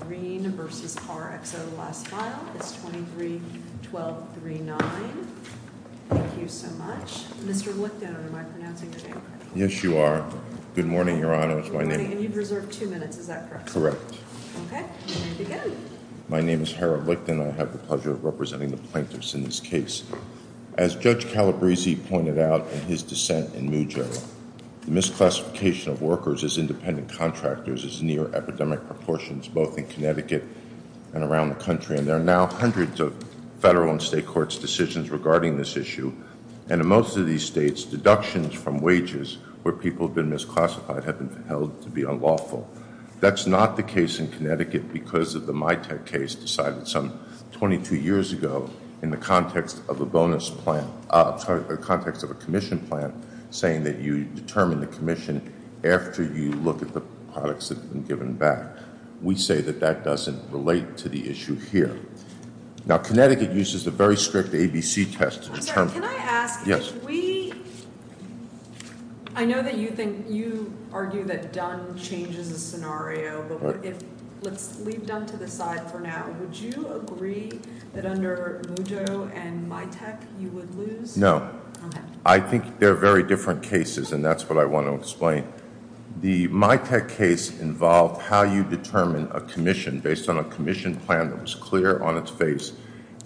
23-1239. Thank you so much. Mr. Licton, am I pronouncing your name correctly? Yes, you are. Good morning, Your Honor. Good morning. And you've reserved two minutes. Is that correct? Correct. Okay. You may begin. My name is Harold Licton. I have the pleasure of representing the plaintiffs in this case. As Judge Calabresi pointed out in his dissent in Mujere, the misclassification of workers as independent contractors is near epidemic proportions, both in Connecticut and around the country. And there are now hundreds of federal and state courts' decisions regarding this issue. And in most of these states, deductions from wages where people have been misclassified have been held to be unlawful. That's not the case in Connecticut because of the MITEC case decided some 22 years ago in the context of a bonus plan, sorry, the context of a commission plan saying that you determine the commission after you look at the products that have been given back. We say that that doesn't relate to the issue here. Now, Connecticut uses a very strict ABC test to determine. Can I ask? Yes. If we, I know that you think, you argue that Dunn changes the scenario, but if, let's leave Dunn to the side for now, would you agree that under Mujere and MITEC you would lose? No. Okay. I think they're very different cases, and that's what I want to explain. The MITEC case involved how you determine a commission based on a commission plan that was clear on its face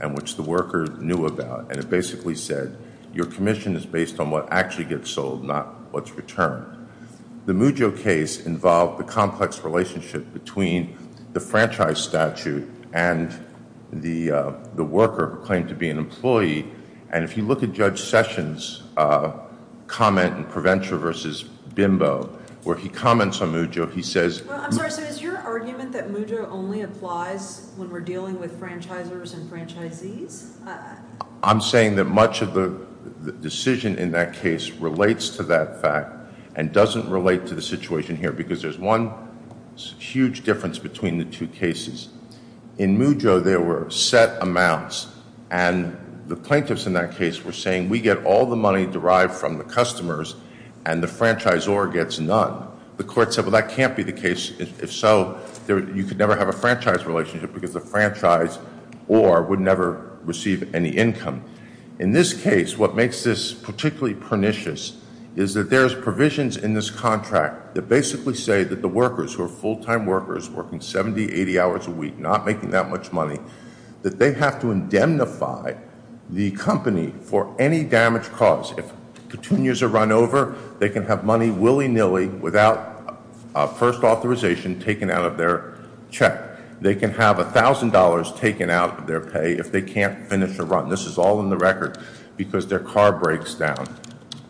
and which the worker knew about, and it basically said your commission is based on what actually gets sold, not what's returned. The Mujere case involved the complex relationship between the franchise statute and the worker who claimed to be an employee. If you look at Judge Sessions' comment in Prevention versus Bimbo, where he comments on Mujere, he says... I'm sorry. Is your argument that Mujere only applies when we're dealing with franchisers and franchisees? I'm saying that much of the decision in that case relates to that fact and doesn't relate to the situation here because there's one huge difference between the two cases. In Mujere, there were set amounts, and the plaintiffs in that case were saying we get all the money derived from the customers and the franchisor gets none. The court said, well, that can't be the case. If so, you could never have a franchise relationship because the franchise or would never receive any income. In this case, what makes this particularly pernicious is that there's provisions in this contract that basically say that the workers who are full-time workers working 70, 80 hours a week, not making that much money, that they have to indemnify the company for any damage caused. If it continues to run over, they can have money willy-nilly without first authorization taken out of their check. They can have $1,000 taken out of their pay if they can't finish the run. This is all in the record because their car breaks down.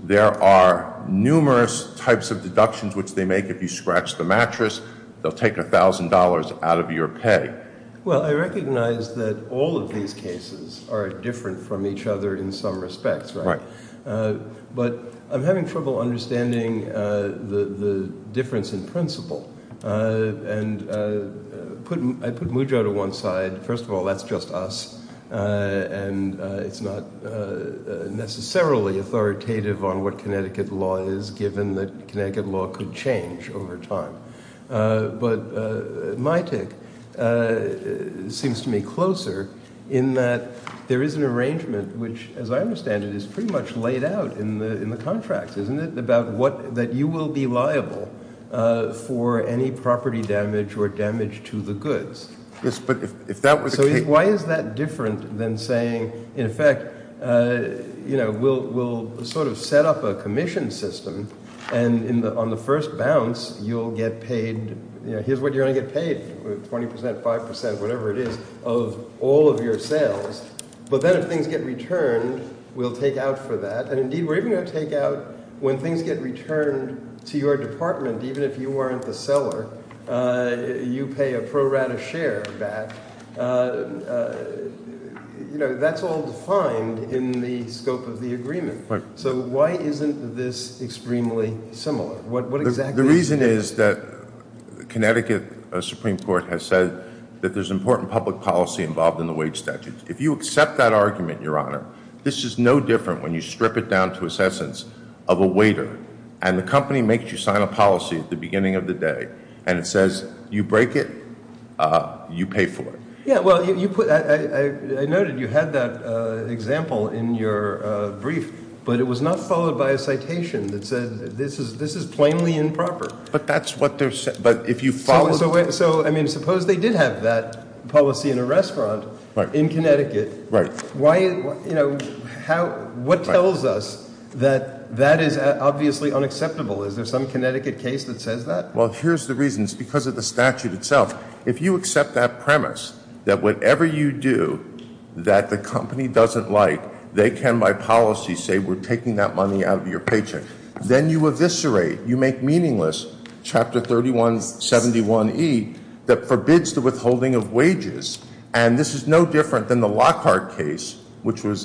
There are numerous types of deductions which they make. If you scratch the mattress, they'll take $1,000 out of your pay. Well, I recognize that all of these cases are different from each other in some respects, right? Right. But I'm having trouble understanding the difference in principle. And I put Mujere to one side. First of all, that's just us, and it's not necessarily authoritative on what Connecticut law is, given that Connecticut law could change over time. But my take seems to me closer in that there is an arrangement which, as I understand it, is pretty much laid out in the contract, isn't it, about that you will be liable for any property damage or damage to the goods. Yes, but if that was the case— And on the first bounce, you'll get paid—here's what you're going to get paid, 20%, 5%, whatever it is, of all of your sales. But then if things get returned, we'll take out for that. And indeed, we're even going to take out when things get returned to your department, even if you weren't the seller, you pay a pro rata share back. That's all defined in the scope of the agreement. So why isn't this extremely similar? The reason is that Connecticut Supreme Court has said that there's important public policy involved in the wage statute. If you accept that argument, Your Honor, this is no different when you strip it down to assessance of a waiter, and the company makes you sign a policy at the beginning of the day, and it says you break it, you pay for it. Yeah, well, I noted you had that example in your brief, but it was not followed by a citation that said this is plainly improper. But that's what they're— So, I mean, suppose they did have that policy in a restaurant in Connecticut. What tells us that that is obviously unacceptable? Is there some Connecticut case that says that? Well, here's the reason. It's because of the statute itself. If you accept that premise, that whatever you do that the company doesn't like, they can, by policy, say we're taking that money out of your paycheck, then you eviscerate, you make meaningless Chapter 3171E that forbids the withholding of wages. And this is no different than the Lockhart case, which was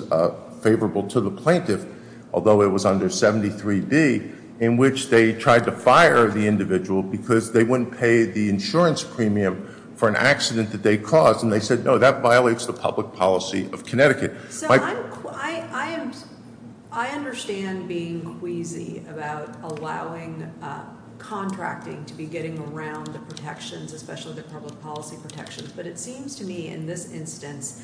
favorable to the plaintiff, although it was under 73D, in which they tried to fire the individual because they wouldn't pay the insurance premium for an accident that they caused, and they said, no, that violates the public policy of Connecticut. So, I understand being queasy about allowing contracting to be getting around the protections, especially the public policy protections, but it seems to me in this instance,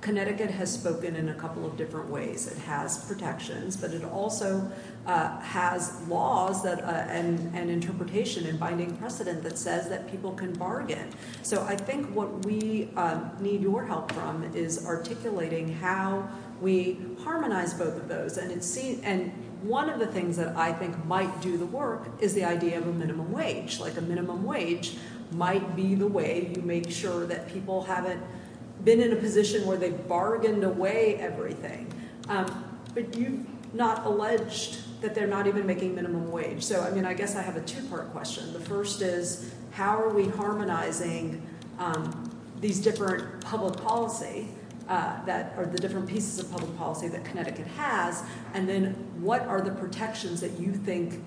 Connecticut has spoken in a couple of different ways. It has protections, but it also has laws and interpretation and binding precedent that says that people can bargain. So I think what we need your help from is articulating how we harmonize both of those. And one of the things that I think might do the work is the idea of a minimum wage. Like a minimum wage might be the way you make sure that people haven't been in a position where they've bargained away everything, but you've not alleged that they're not even making minimum wage. So, I mean, I guess I have a two-part question. The first is, how are we harmonizing these different public policy that, or the different pieces of public policy that Connecticut has, and then what are the protections that you think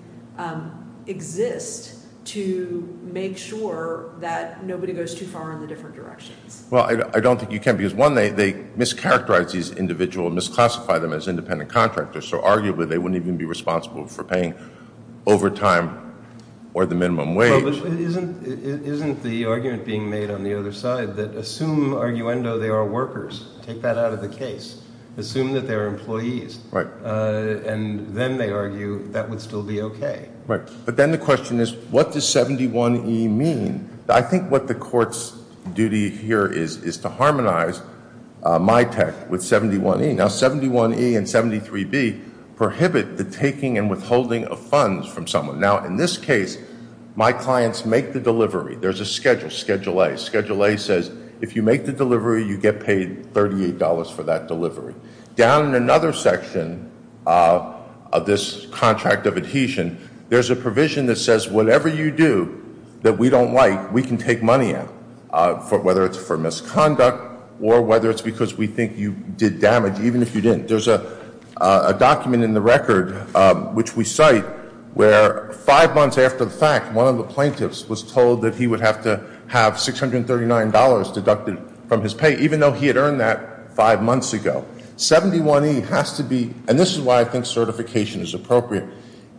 exist to make sure that nobody goes too far in the different directions? Well, I don't think you can, because one, they mischaracterize these individuals, misclassify them as independent contractors, so arguably they wouldn't even be responsible for paying overtime or the minimum wage. Well, but isn't the argument being made on the other side that assume, arguendo, they are workers, take that out of the case, assume that they are employees, and then they argue that would still be okay? Right. But then the question is, what does 71E mean? I think what the court's duty here is, is to harmonize my tech with 71E. Now, 71E and 73B prohibit the taking and withholding of funds from someone. Now, in this case, my clients make the delivery. There's a schedule, Schedule A. Schedule A says, if you make the delivery, you get paid $38 for that delivery. Down in another section of this contract of adhesion, there's a provision that says, whatever you do that we don't like, we can take money out, whether it's for misconduct or whether it's because we think you did damage, even if you didn't. There's a document in the record, which we cite, where five months after the fact, one of the plaintiffs was told that he would have to have $639 deducted from his pay, even though he had earned that five months ago. 71E has to be, and this is why I think certification is appropriate,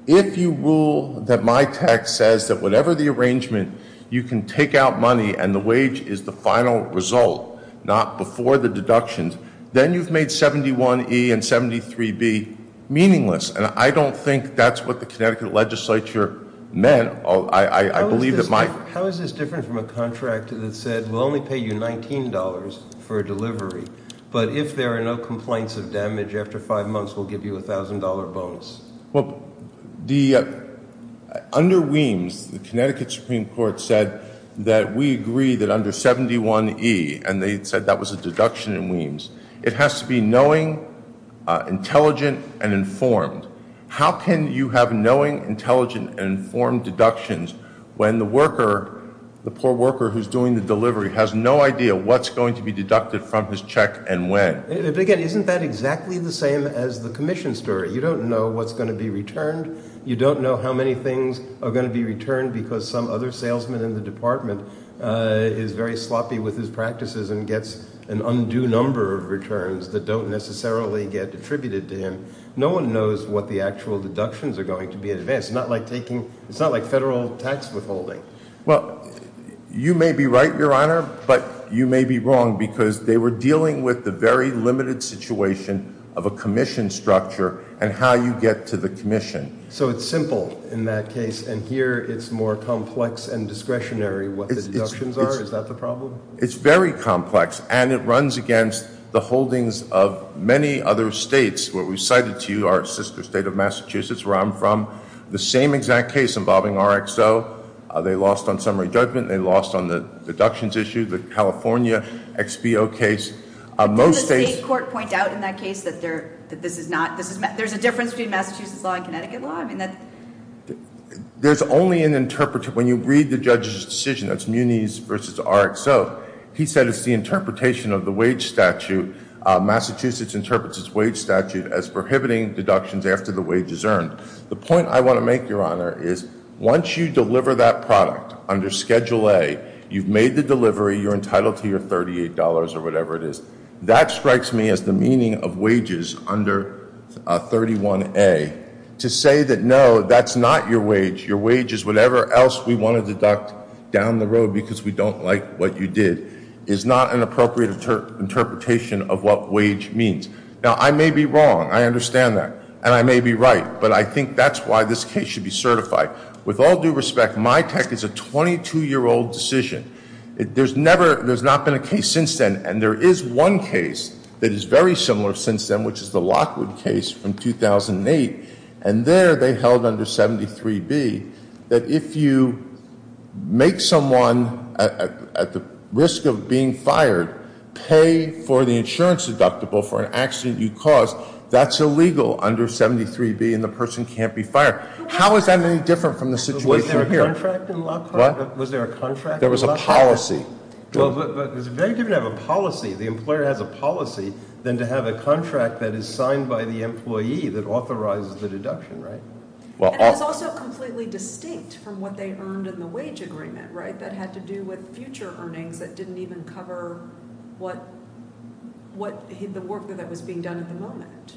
if you rule that my tech says that whatever the arrangement, you can take out money and the wage is the final result, not before the deductions. Then you've made 71E and 73B meaningless, and I don't think that's what the Connecticut legislature meant. I believe that my- How is this different from a contract that said, we'll only pay you $19 for a delivery, but if there are no complaints of damage after five months, we'll give you a $1,000 bonus? Well, under WIMS, the Connecticut Supreme Court said that we agree that under 71E, and they said that was a deduction in WIMS, it has to be knowing, intelligent, and informed. How can you have knowing, intelligent, and informed deductions when the worker, the poor worker who's doing the delivery, has no idea what's going to be deducted from his check and when? Again, isn't that exactly the same as the commission story? You don't know what's going to be returned. You don't know how many things are going to be returned because some other salesman in the department is very sloppy with his practices and gets an undue number of returns that don't necessarily get attributed to him. No one knows what the actual deductions are going to be in advance. It's not like taking, it's not like federal tax withholding. Well, you may be right, Your Honor, but you may be wrong because they were dealing with the very limited situation of a commission structure and how you get to the commission. So it's simple in that case, and here it's more complex and discretionary what the deductions are? Is that the problem? It's very complex, and it runs against the holdings of many other states where we cited to you our sister state of Massachusetts where I'm from, the same exact case involving RXO. They lost on summary judgment. They lost on the deductions issue, the California XBO case. Most states- Didn't the state court point out in that case that this is not, there's a difference between Massachusetts law and Connecticut law? There's only an interpreter. When you read the judge's decision, that's Muniz v. RXO, he said it's the interpretation of the wage statute, Massachusetts interprets its wage statute as prohibiting deductions after the wage is earned. The point I want to make, Your Honor, is once you deliver that product under Schedule A, you've made the delivery, you're entitled to your $38 or whatever it is. That strikes me as the meaning of wages under 31A. To say that no, that's not your wage, your wage is whatever else we want to deduct down the road because we don't like what you did is not an appropriate interpretation of what wage means. Now, I may be wrong, I understand that, and I may be right, but I think that's why this case should be certified. With all due respect, my tech is a 22-year-old decision. There's never, there's not been a case since then, and there is one case that is very similar since then, which is the Lockwood case from 2008. And there, they held under 73B that if you make someone at the risk of being fired pay for the insurance deductible for an accident you caused, that's illegal under 73B and the person can't be fired. How is that any different from the situation here? Was there a contract in Lockwood? What? Was there a contract in Lockwood? There was a policy. Well, but it's very different to have a policy, the employer has a policy, than to have a contract that is signed by the employee that authorizes the deduction, right? And it's also completely distinct from what they earned in the wage agreement, right? That had to do with future earnings that didn't even cover what, the work that was being done at the moment.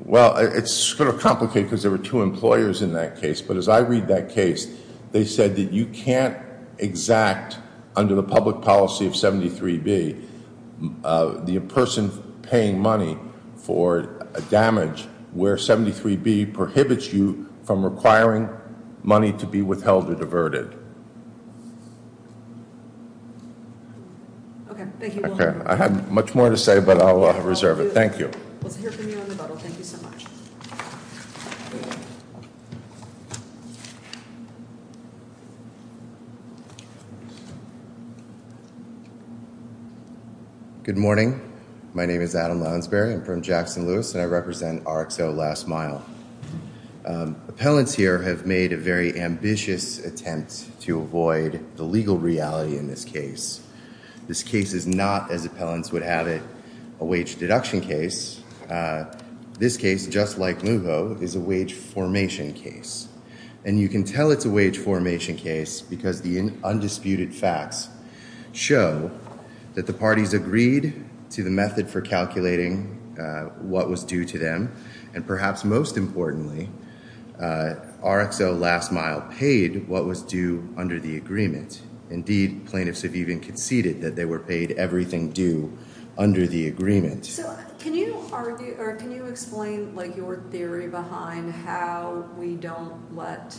Well, it's sort of complicated because there were two employers in that case. But as I read that case, they said that you can't exact under the public policy of 73B, the person paying money for damage where 73B prohibits you from requiring money to be withheld or diverted. Okay, thank you. Okay, I have much more to say, but I'll reserve it. Thank you. Let's hear from you on the bottle. Thank you so much. Good morning. My name is Adam Lounsberry. I'm from Jackson Lewis, and I represent RXO Last Mile. Appellants here have made a very ambitious attempt to avoid the legal reality in this case. This case is not, as appellants would have it, a wage deduction case. This case, just like Lugo, is a wage formation case. And you can tell it's a wage formation case because the undisputed facts show that the parties agreed to the method for calculating what was due to them. And perhaps most importantly, RXO Last Mile paid what was due under the agreement. Indeed, plaintiffs have even conceded that they were paid everything due under the agreement. So can you explain your theory behind how we don't let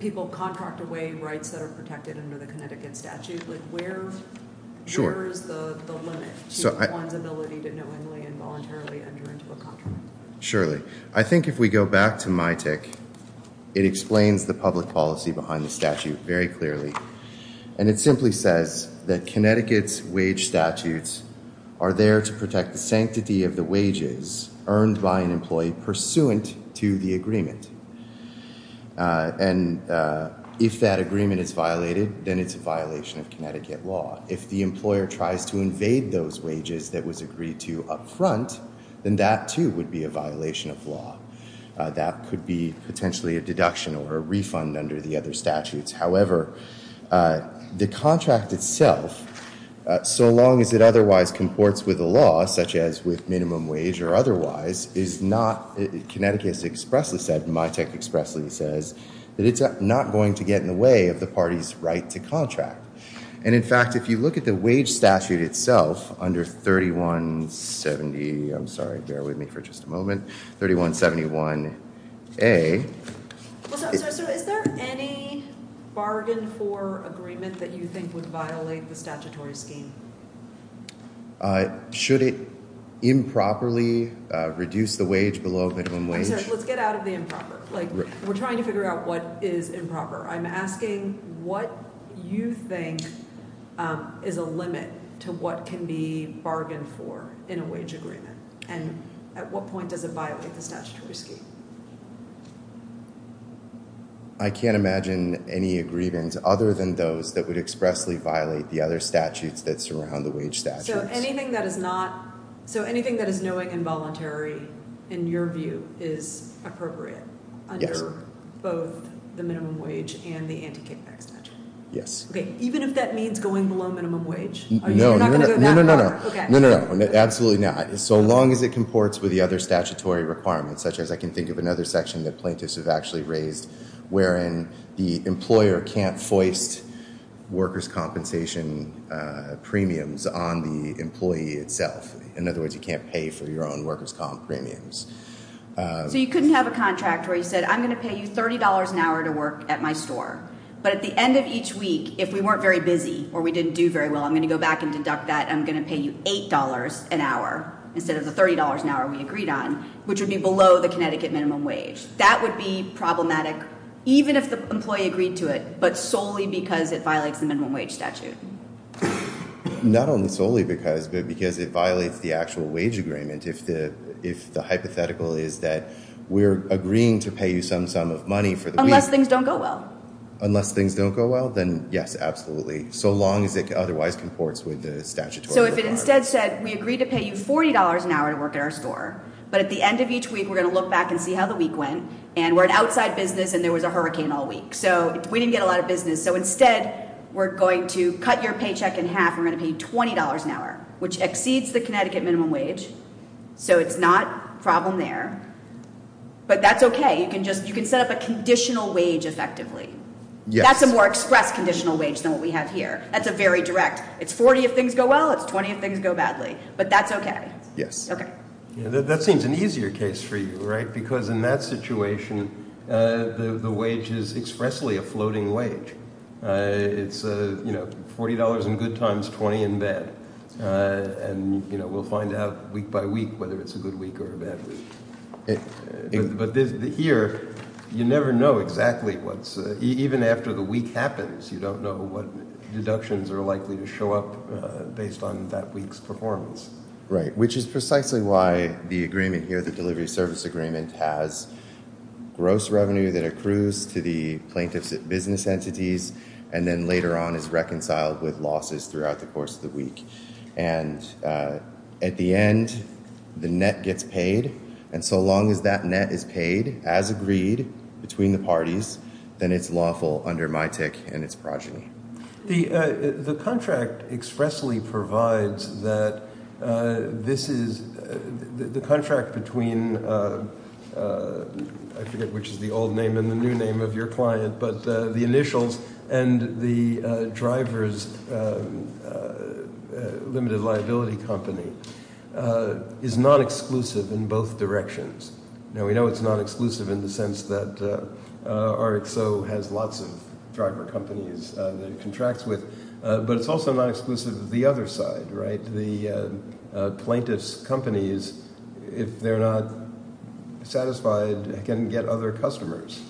people contract away rights that are protected under the Connecticut statute? Where is the limit to one's ability to knowingly and voluntarily enter into a contract? Surely. I think if we go back to MITIC, it explains the public policy behind the statute very clearly. And it simply says that Connecticut's wage statutes are there to protect the sanctity of the wages earned by an employee pursuant to the agreement. And if that agreement is violated, then it's a violation of Connecticut law. If the employer tries to invade those wages that was agreed to upfront, then that too would be a violation of law. That could be potentially a deduction or a refund under the other statutes. However, the contract itself, so long as it otherwise comports with the law, such as with minimum wage or otherwise, is not, Connecticut expressly said, MITIC expressly says, that it's not going to get in the way of the party's right to contract. And in fact, if you look at the wage statute itself, under 3170, I'm sorry, bear with me for just a moment, 3171A. So is there any bargain for agreement that you think would violate the statutory scheme? Should it improperly reduce the wage below minimum wage? Let's get out of the improper. We're trying to figure out what is improper. I'm asking what you think is a limit to what can be bargained for in a wage agreement. And at what point does it violate the statutory scheme? I can't imagine any agreements other than those that would expressly violate the other statutes that surround the wage statutes. So anything that is not, so anything that is knowing involuntary, in your view, is appropriate under both the minimum wage and the anti-kickback statute. Yes. Even if that means going below minimum wage? No, no, no, no, no, no, no, no. Absolutely not. So long as it comports with the other statutory requirements, such as I can think of another section that plaintiffs have actually raised. Wherein the employer can't foist workers' compensation premiums on the employee itself. In other words, you can't pay for your own workers' comp premiums. So you couldn't have a contract where you said, I'm going to pay you $30 an hour to work at my store. But at the end of each week, if we weren't very busy, or we didn't do very well, I'm going to go back and deduct that. I'm going to pay you $8 an hour, instead of the $30 an hour we agreed on, which would be below the Connecticut minimum wage. That would be problematic, even if the employee agreed to it, but solely because it violates the minimum wage statute. Not only solely because, but because it violates the actual wage agreement. If the hypothetical is that we're agreeing to pay you some sum of money for the week. Unless things don't go well. Unless things don't go well, then yes, absolutely. So long as it otherwise comports with the statutory requirements. So if it instead said, we agreed to pay you $40 an hour to work at our store. But at the end of each week, we're going to look back and see how the week went. And we're an outside business, and there was a hurricane all week. So we didn't get a lot of business. So instead, we're going to cut your paycheck in half. We're going to pay you $20 an hour, which exceeds the Connecticut minimum wage. So it's not a problem there, but that's okay. You can set up a conditional wage effectively. That's a more express conditional wage than what we have here. That's a very direct. It's 40 if things go well, it's 20 if things go badly. But that's okay. Okay. That seems an easier case for you, right? Because in that situation, the wage is expressly a floating wage. It's, you know, $40 in good times, 20 in bad. And, you know, we'll find out week by week whether it's a good week or a bad week. But here, you never know exactly what's, even after the week happens, you don't know what deductions are likely to show up based on that week's performance. Right. Which is precisely why the agreement here, the delivery service agreement has gross revenue that accrues to the plaintiffs at business entities, and then later on is reconciled with losses throughout the course of the week. And at the end, the net gets paid. And so long as that net is paid as agreed between the parties, then it's lawful under my tick and its progeny. The contract expressly provides that this is, the contract between, I forget which is the old name and the new name of your client, but the initials and the driver's limited liability company is not exclusive in both directions. Now, we know it's not exclusive in the sense that RXO has lots of driver companies that it contracts with. But it's also not exclusive to the other side, right? The plaintiff's companies, if they're not satisfied, can get other customers.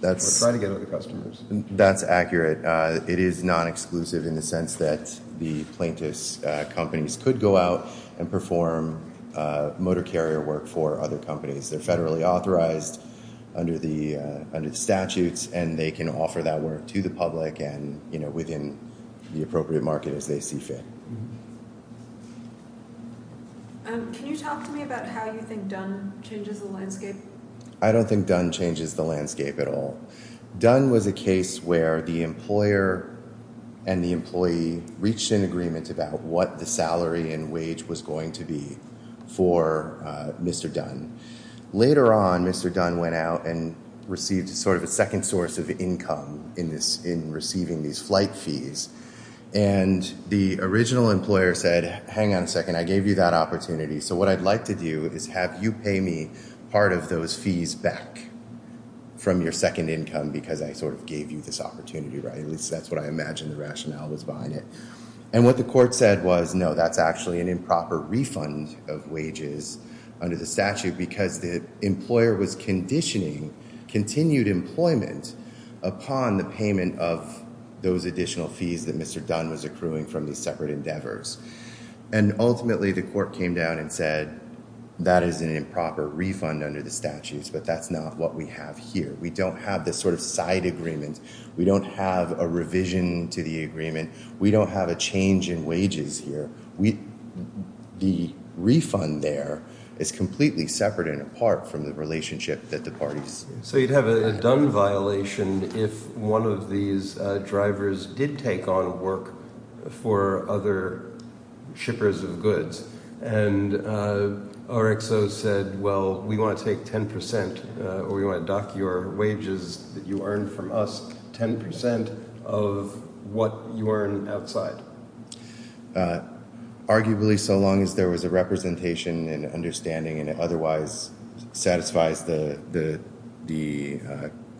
That's right, to get other customers. That's accurate. It is not exclusive in the sense that the plaintiff's companies could go out and perform motor carrier work for other companies. They're federally authorized under the statutes. And they can offer that work to the public and, you know, within the appropriate market as they see fit. Can you talk to me about how you think Dunn changes the landscape? I don't think Dunn changes the landscape at all. Dunn was a case where the employer and the employee reached an agreement about what the salary and wage was going to be for Mr. Dunn. Later on, Mr. Dunn went out and received sort of a second source of income in receiving these flight fees. And the original employer said, hang on a second, I gave you that opportunity. So what I'd like to do is have you pay me part of those fees back from your second income because I sort of gave you this opportunity, right? At least that's what I imagined the rationale was behind it. And what the court said was, no, that's actually an improper refund of wages under the statute because the employer was conditioning continued employment upon the payment of those additional fees that Mr. Dunn was accruing from these separate endeavors. And ultimately, the court came down and said that is an improper refund under the statutes, but that's not what we have here. We don't have this sort of side agreement. We don't have a revision to the agreement. We don't have a change in wages here. We, the refund there is completely separate and apart from the relationship that the parties. So you'd have a Dunn violation if one of these drivers did take on work for other shippers of goods and RXO said, well, we want to take 10% or we want to dock your wages that you earned from us, 10% of what you earn outside. Arguably, so long as there was a representation and understanding and otherwise satisfies the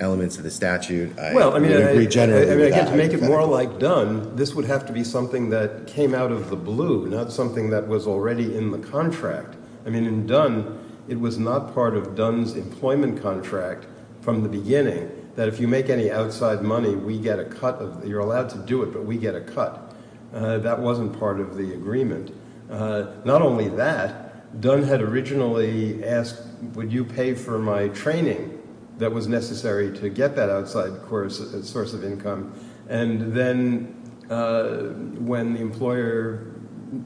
elements of the statute, I regenerated that. Well, I mean, again, to make it more like Dunn, this would have to be something that came out of the blue, not something that was already in the contract. I mean, in Dunn, it was not part of Dunn's employment contract from the beginning that if you make any outside money, we get a cut of, you're allowed to do it, but we get a cut. That wasn't part of the agreement. Not only that, Dunn had originally asked, would you pay for my training that was necessary to get that outside source of income? And then when the employer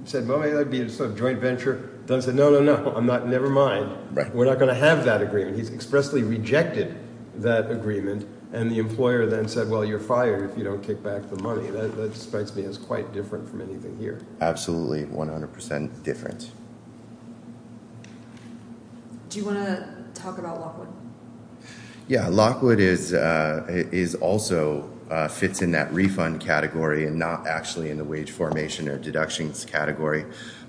said, well, maybe that'd be a sort of joint venture, Dunn said, no, no, no, I'm not, never mind. We're not going to have that agreement. He's expressly rejected that agreement. And the employer then said, well, you're fired if you don't kick back the money. That strikes me as quite different from anything here. Absolutely, 100% different. Do you want to talk about Lockwood? Yeah, Lockwood is also, fits in that refund category and not actually in the wage formation or deductions category.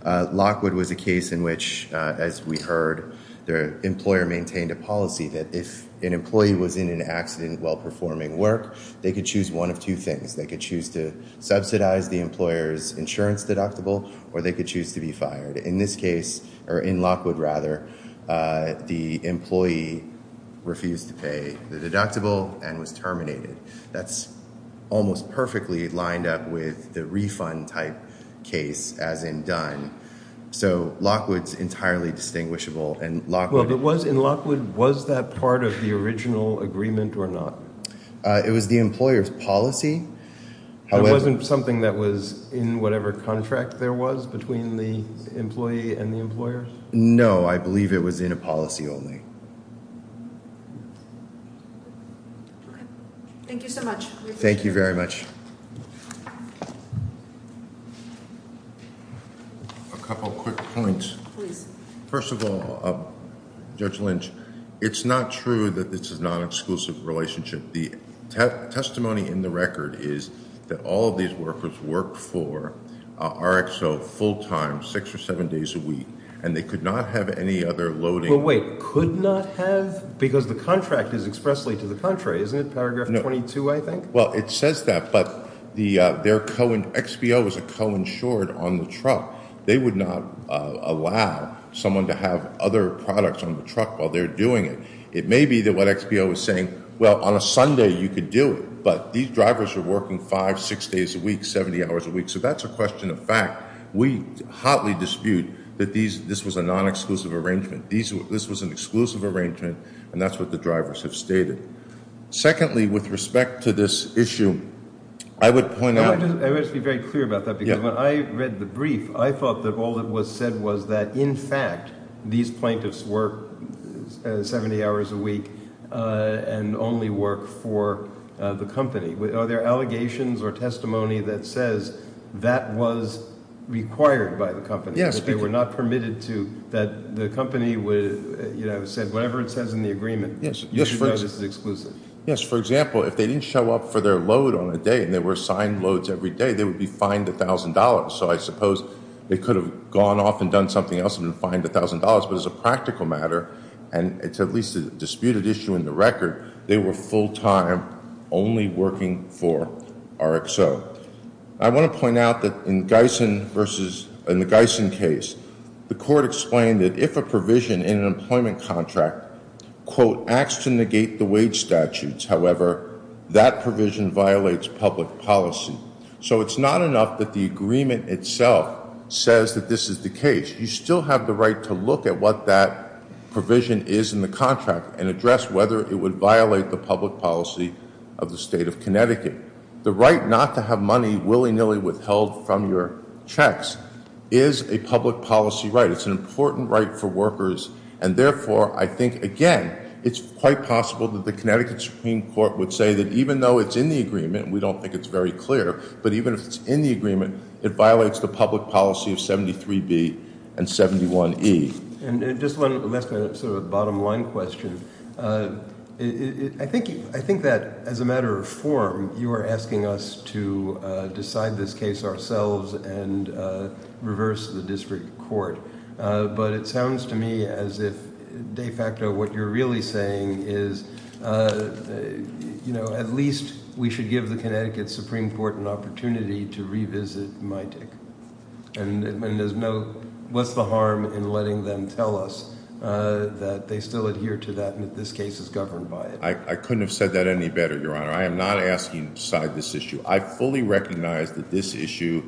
Lockwood was a case in which, as we heard, the employer maintained a policy that if an employee was in an accident while performing work, they could choose one of two things. They could choose to subsidize the employer's insurance deductible or they could choose to be fired. In this case, or in Lockwood rather, the employee refused to pay the deductible and was terminated. That's almost perfectly lined up with the refund type case as in Dunn. So, Lockwood's entirely distinguishable and Lockwood. Well, but was, in Lockwood, was that part of the original agreement or not? It was the employer's policy. It wasn't something that was in whatever contract there was between the employee and the employer? No, I believe it was in a policy only. Thank you so much. Thank you very much. A couple quick points. Please. First of all, Judge Lynch, it's not true that this is a non-exclusive relationship. The testimony in the record is that all of these workers worked for RXO full time, six or seven days a week, and they could not have any other loading. Well, wait, could not have? Because the contract is expressly to the contrary, isn't it? No. Well, it says that, but XBO is a co-insured on the truck. They would not allow someone to have other products on the truck while they're doing it. It may be that what XBO is saying, well, on a Sunday you could do it, but these drivers are working five, six days a week, 70 hours a week. So that's a question of fact. We hotly dispute that this was a non-exclusive arrangement. This was an exclusive arrangement, and that's what the drivers have stated. Secondly, with respect to this issue, I would point out- I wish to be very clear about that, because when I read the brief, I thought that all that was said was that, in fact, these plaintiffs work 70 hours a week and only work for the company. Are there allegations or testimony that says that was required by the company? Yes. That they were not permitted to, that the company said, whatever it says in the agreement- Yes. You should know this is exclusive. Yes. For example, if they didn't show up for their load on a day, and they were assigned loads every day, they would be fined $1,000. So I suppose they could have gone off and done something else and been fined $1,000, but as a practical matter, and it's at least a disputed issue in the record, they were full time only working for RXO. I want to point out that in the Gison case, the court explained that if a provision in an employment contract, quote, acts to negate the wage statutes, however, that provision violates public policy. So it's not enough that the agreement itself says that this is the case. You still have the right to look at what that provision is in the contract and address whether it would violate the public policy of the state of Connecticut. The right not to have money willy nilly withheld from your checks is a public policy right. It's an important right for workers, and therefore, I think, again, it's quite possible that the Connecticut Supreme Court would say that even though it's in the agreement, and we don't think it's very clear, but even if it's in the agreement, it violates the public policy of 73B and 71E. And just one last, sort of a bottom line question. I think that as a matter of form, you are asking us to decide this case ourselves and reverse the district court, but it sounds to me as if de facto, what you're really saying is, at least, we should give the Connecticut Supreme Court an opportunity to revisit MITIC. And what's the harm in letting them tell us that they still adhere to that and that this case is governed by it? I couldn't have said that any better, Your Honor. I am not asking you to decide this issue. I fully recognize that this issue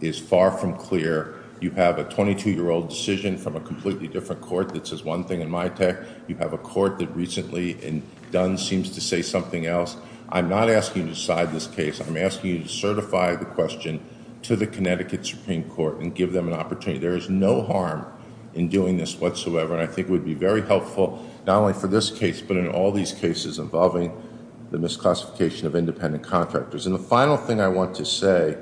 is far from clear. You have a 22-year-old decision from a completely different court that says one thing in MITIC. You have a court that recently in Dunn seems to say something else. I'm not asking you to decide this case. I'm asking you to certify the question to the Connecticut Supreme Court and give them an opportunity. There is no harm in doing this whatsoever. And I think it would be very helpful, not only for this case, but in all these cases involving the misclassification of independent contractors. And the final thing I want to say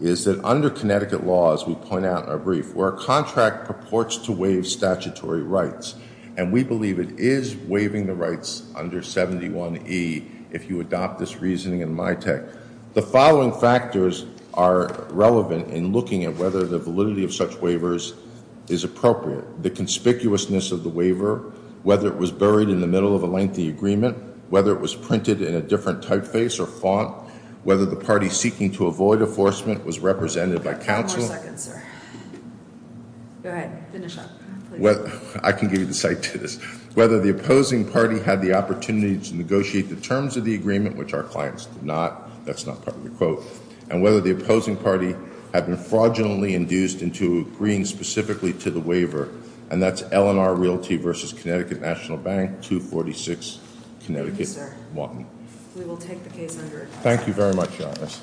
is that under Connecticut law, as we point out in our brief, where a contract purports to waive statutory rights, and we believe it is waiving the rights under 71E, if you adopt this reasoning in MITEC. The following factors are relevant in looking at whether the validity of such waivers is appropriate. The conspicuousness of the waiver, whether it was buried in the middle of a lengthy agreement, whether it was printed in a different typeface or font, whether the party seeking to avoid enforcement was represented by counsel. One more second, sir. Go ahead, finish up. I can give you the cite to this. Whether the opposing party had the opportunity to negotiate the terms of the agreement, which our clients did not. That's not part of the quote. And whether the opposing party had been fraudulently induced into agreeing specifically to the waiver. And that's L&R Realty versus Connecticut National Bank, 246, Connecticut 1. We will take the case under advice. Thank you very much, Your Honors.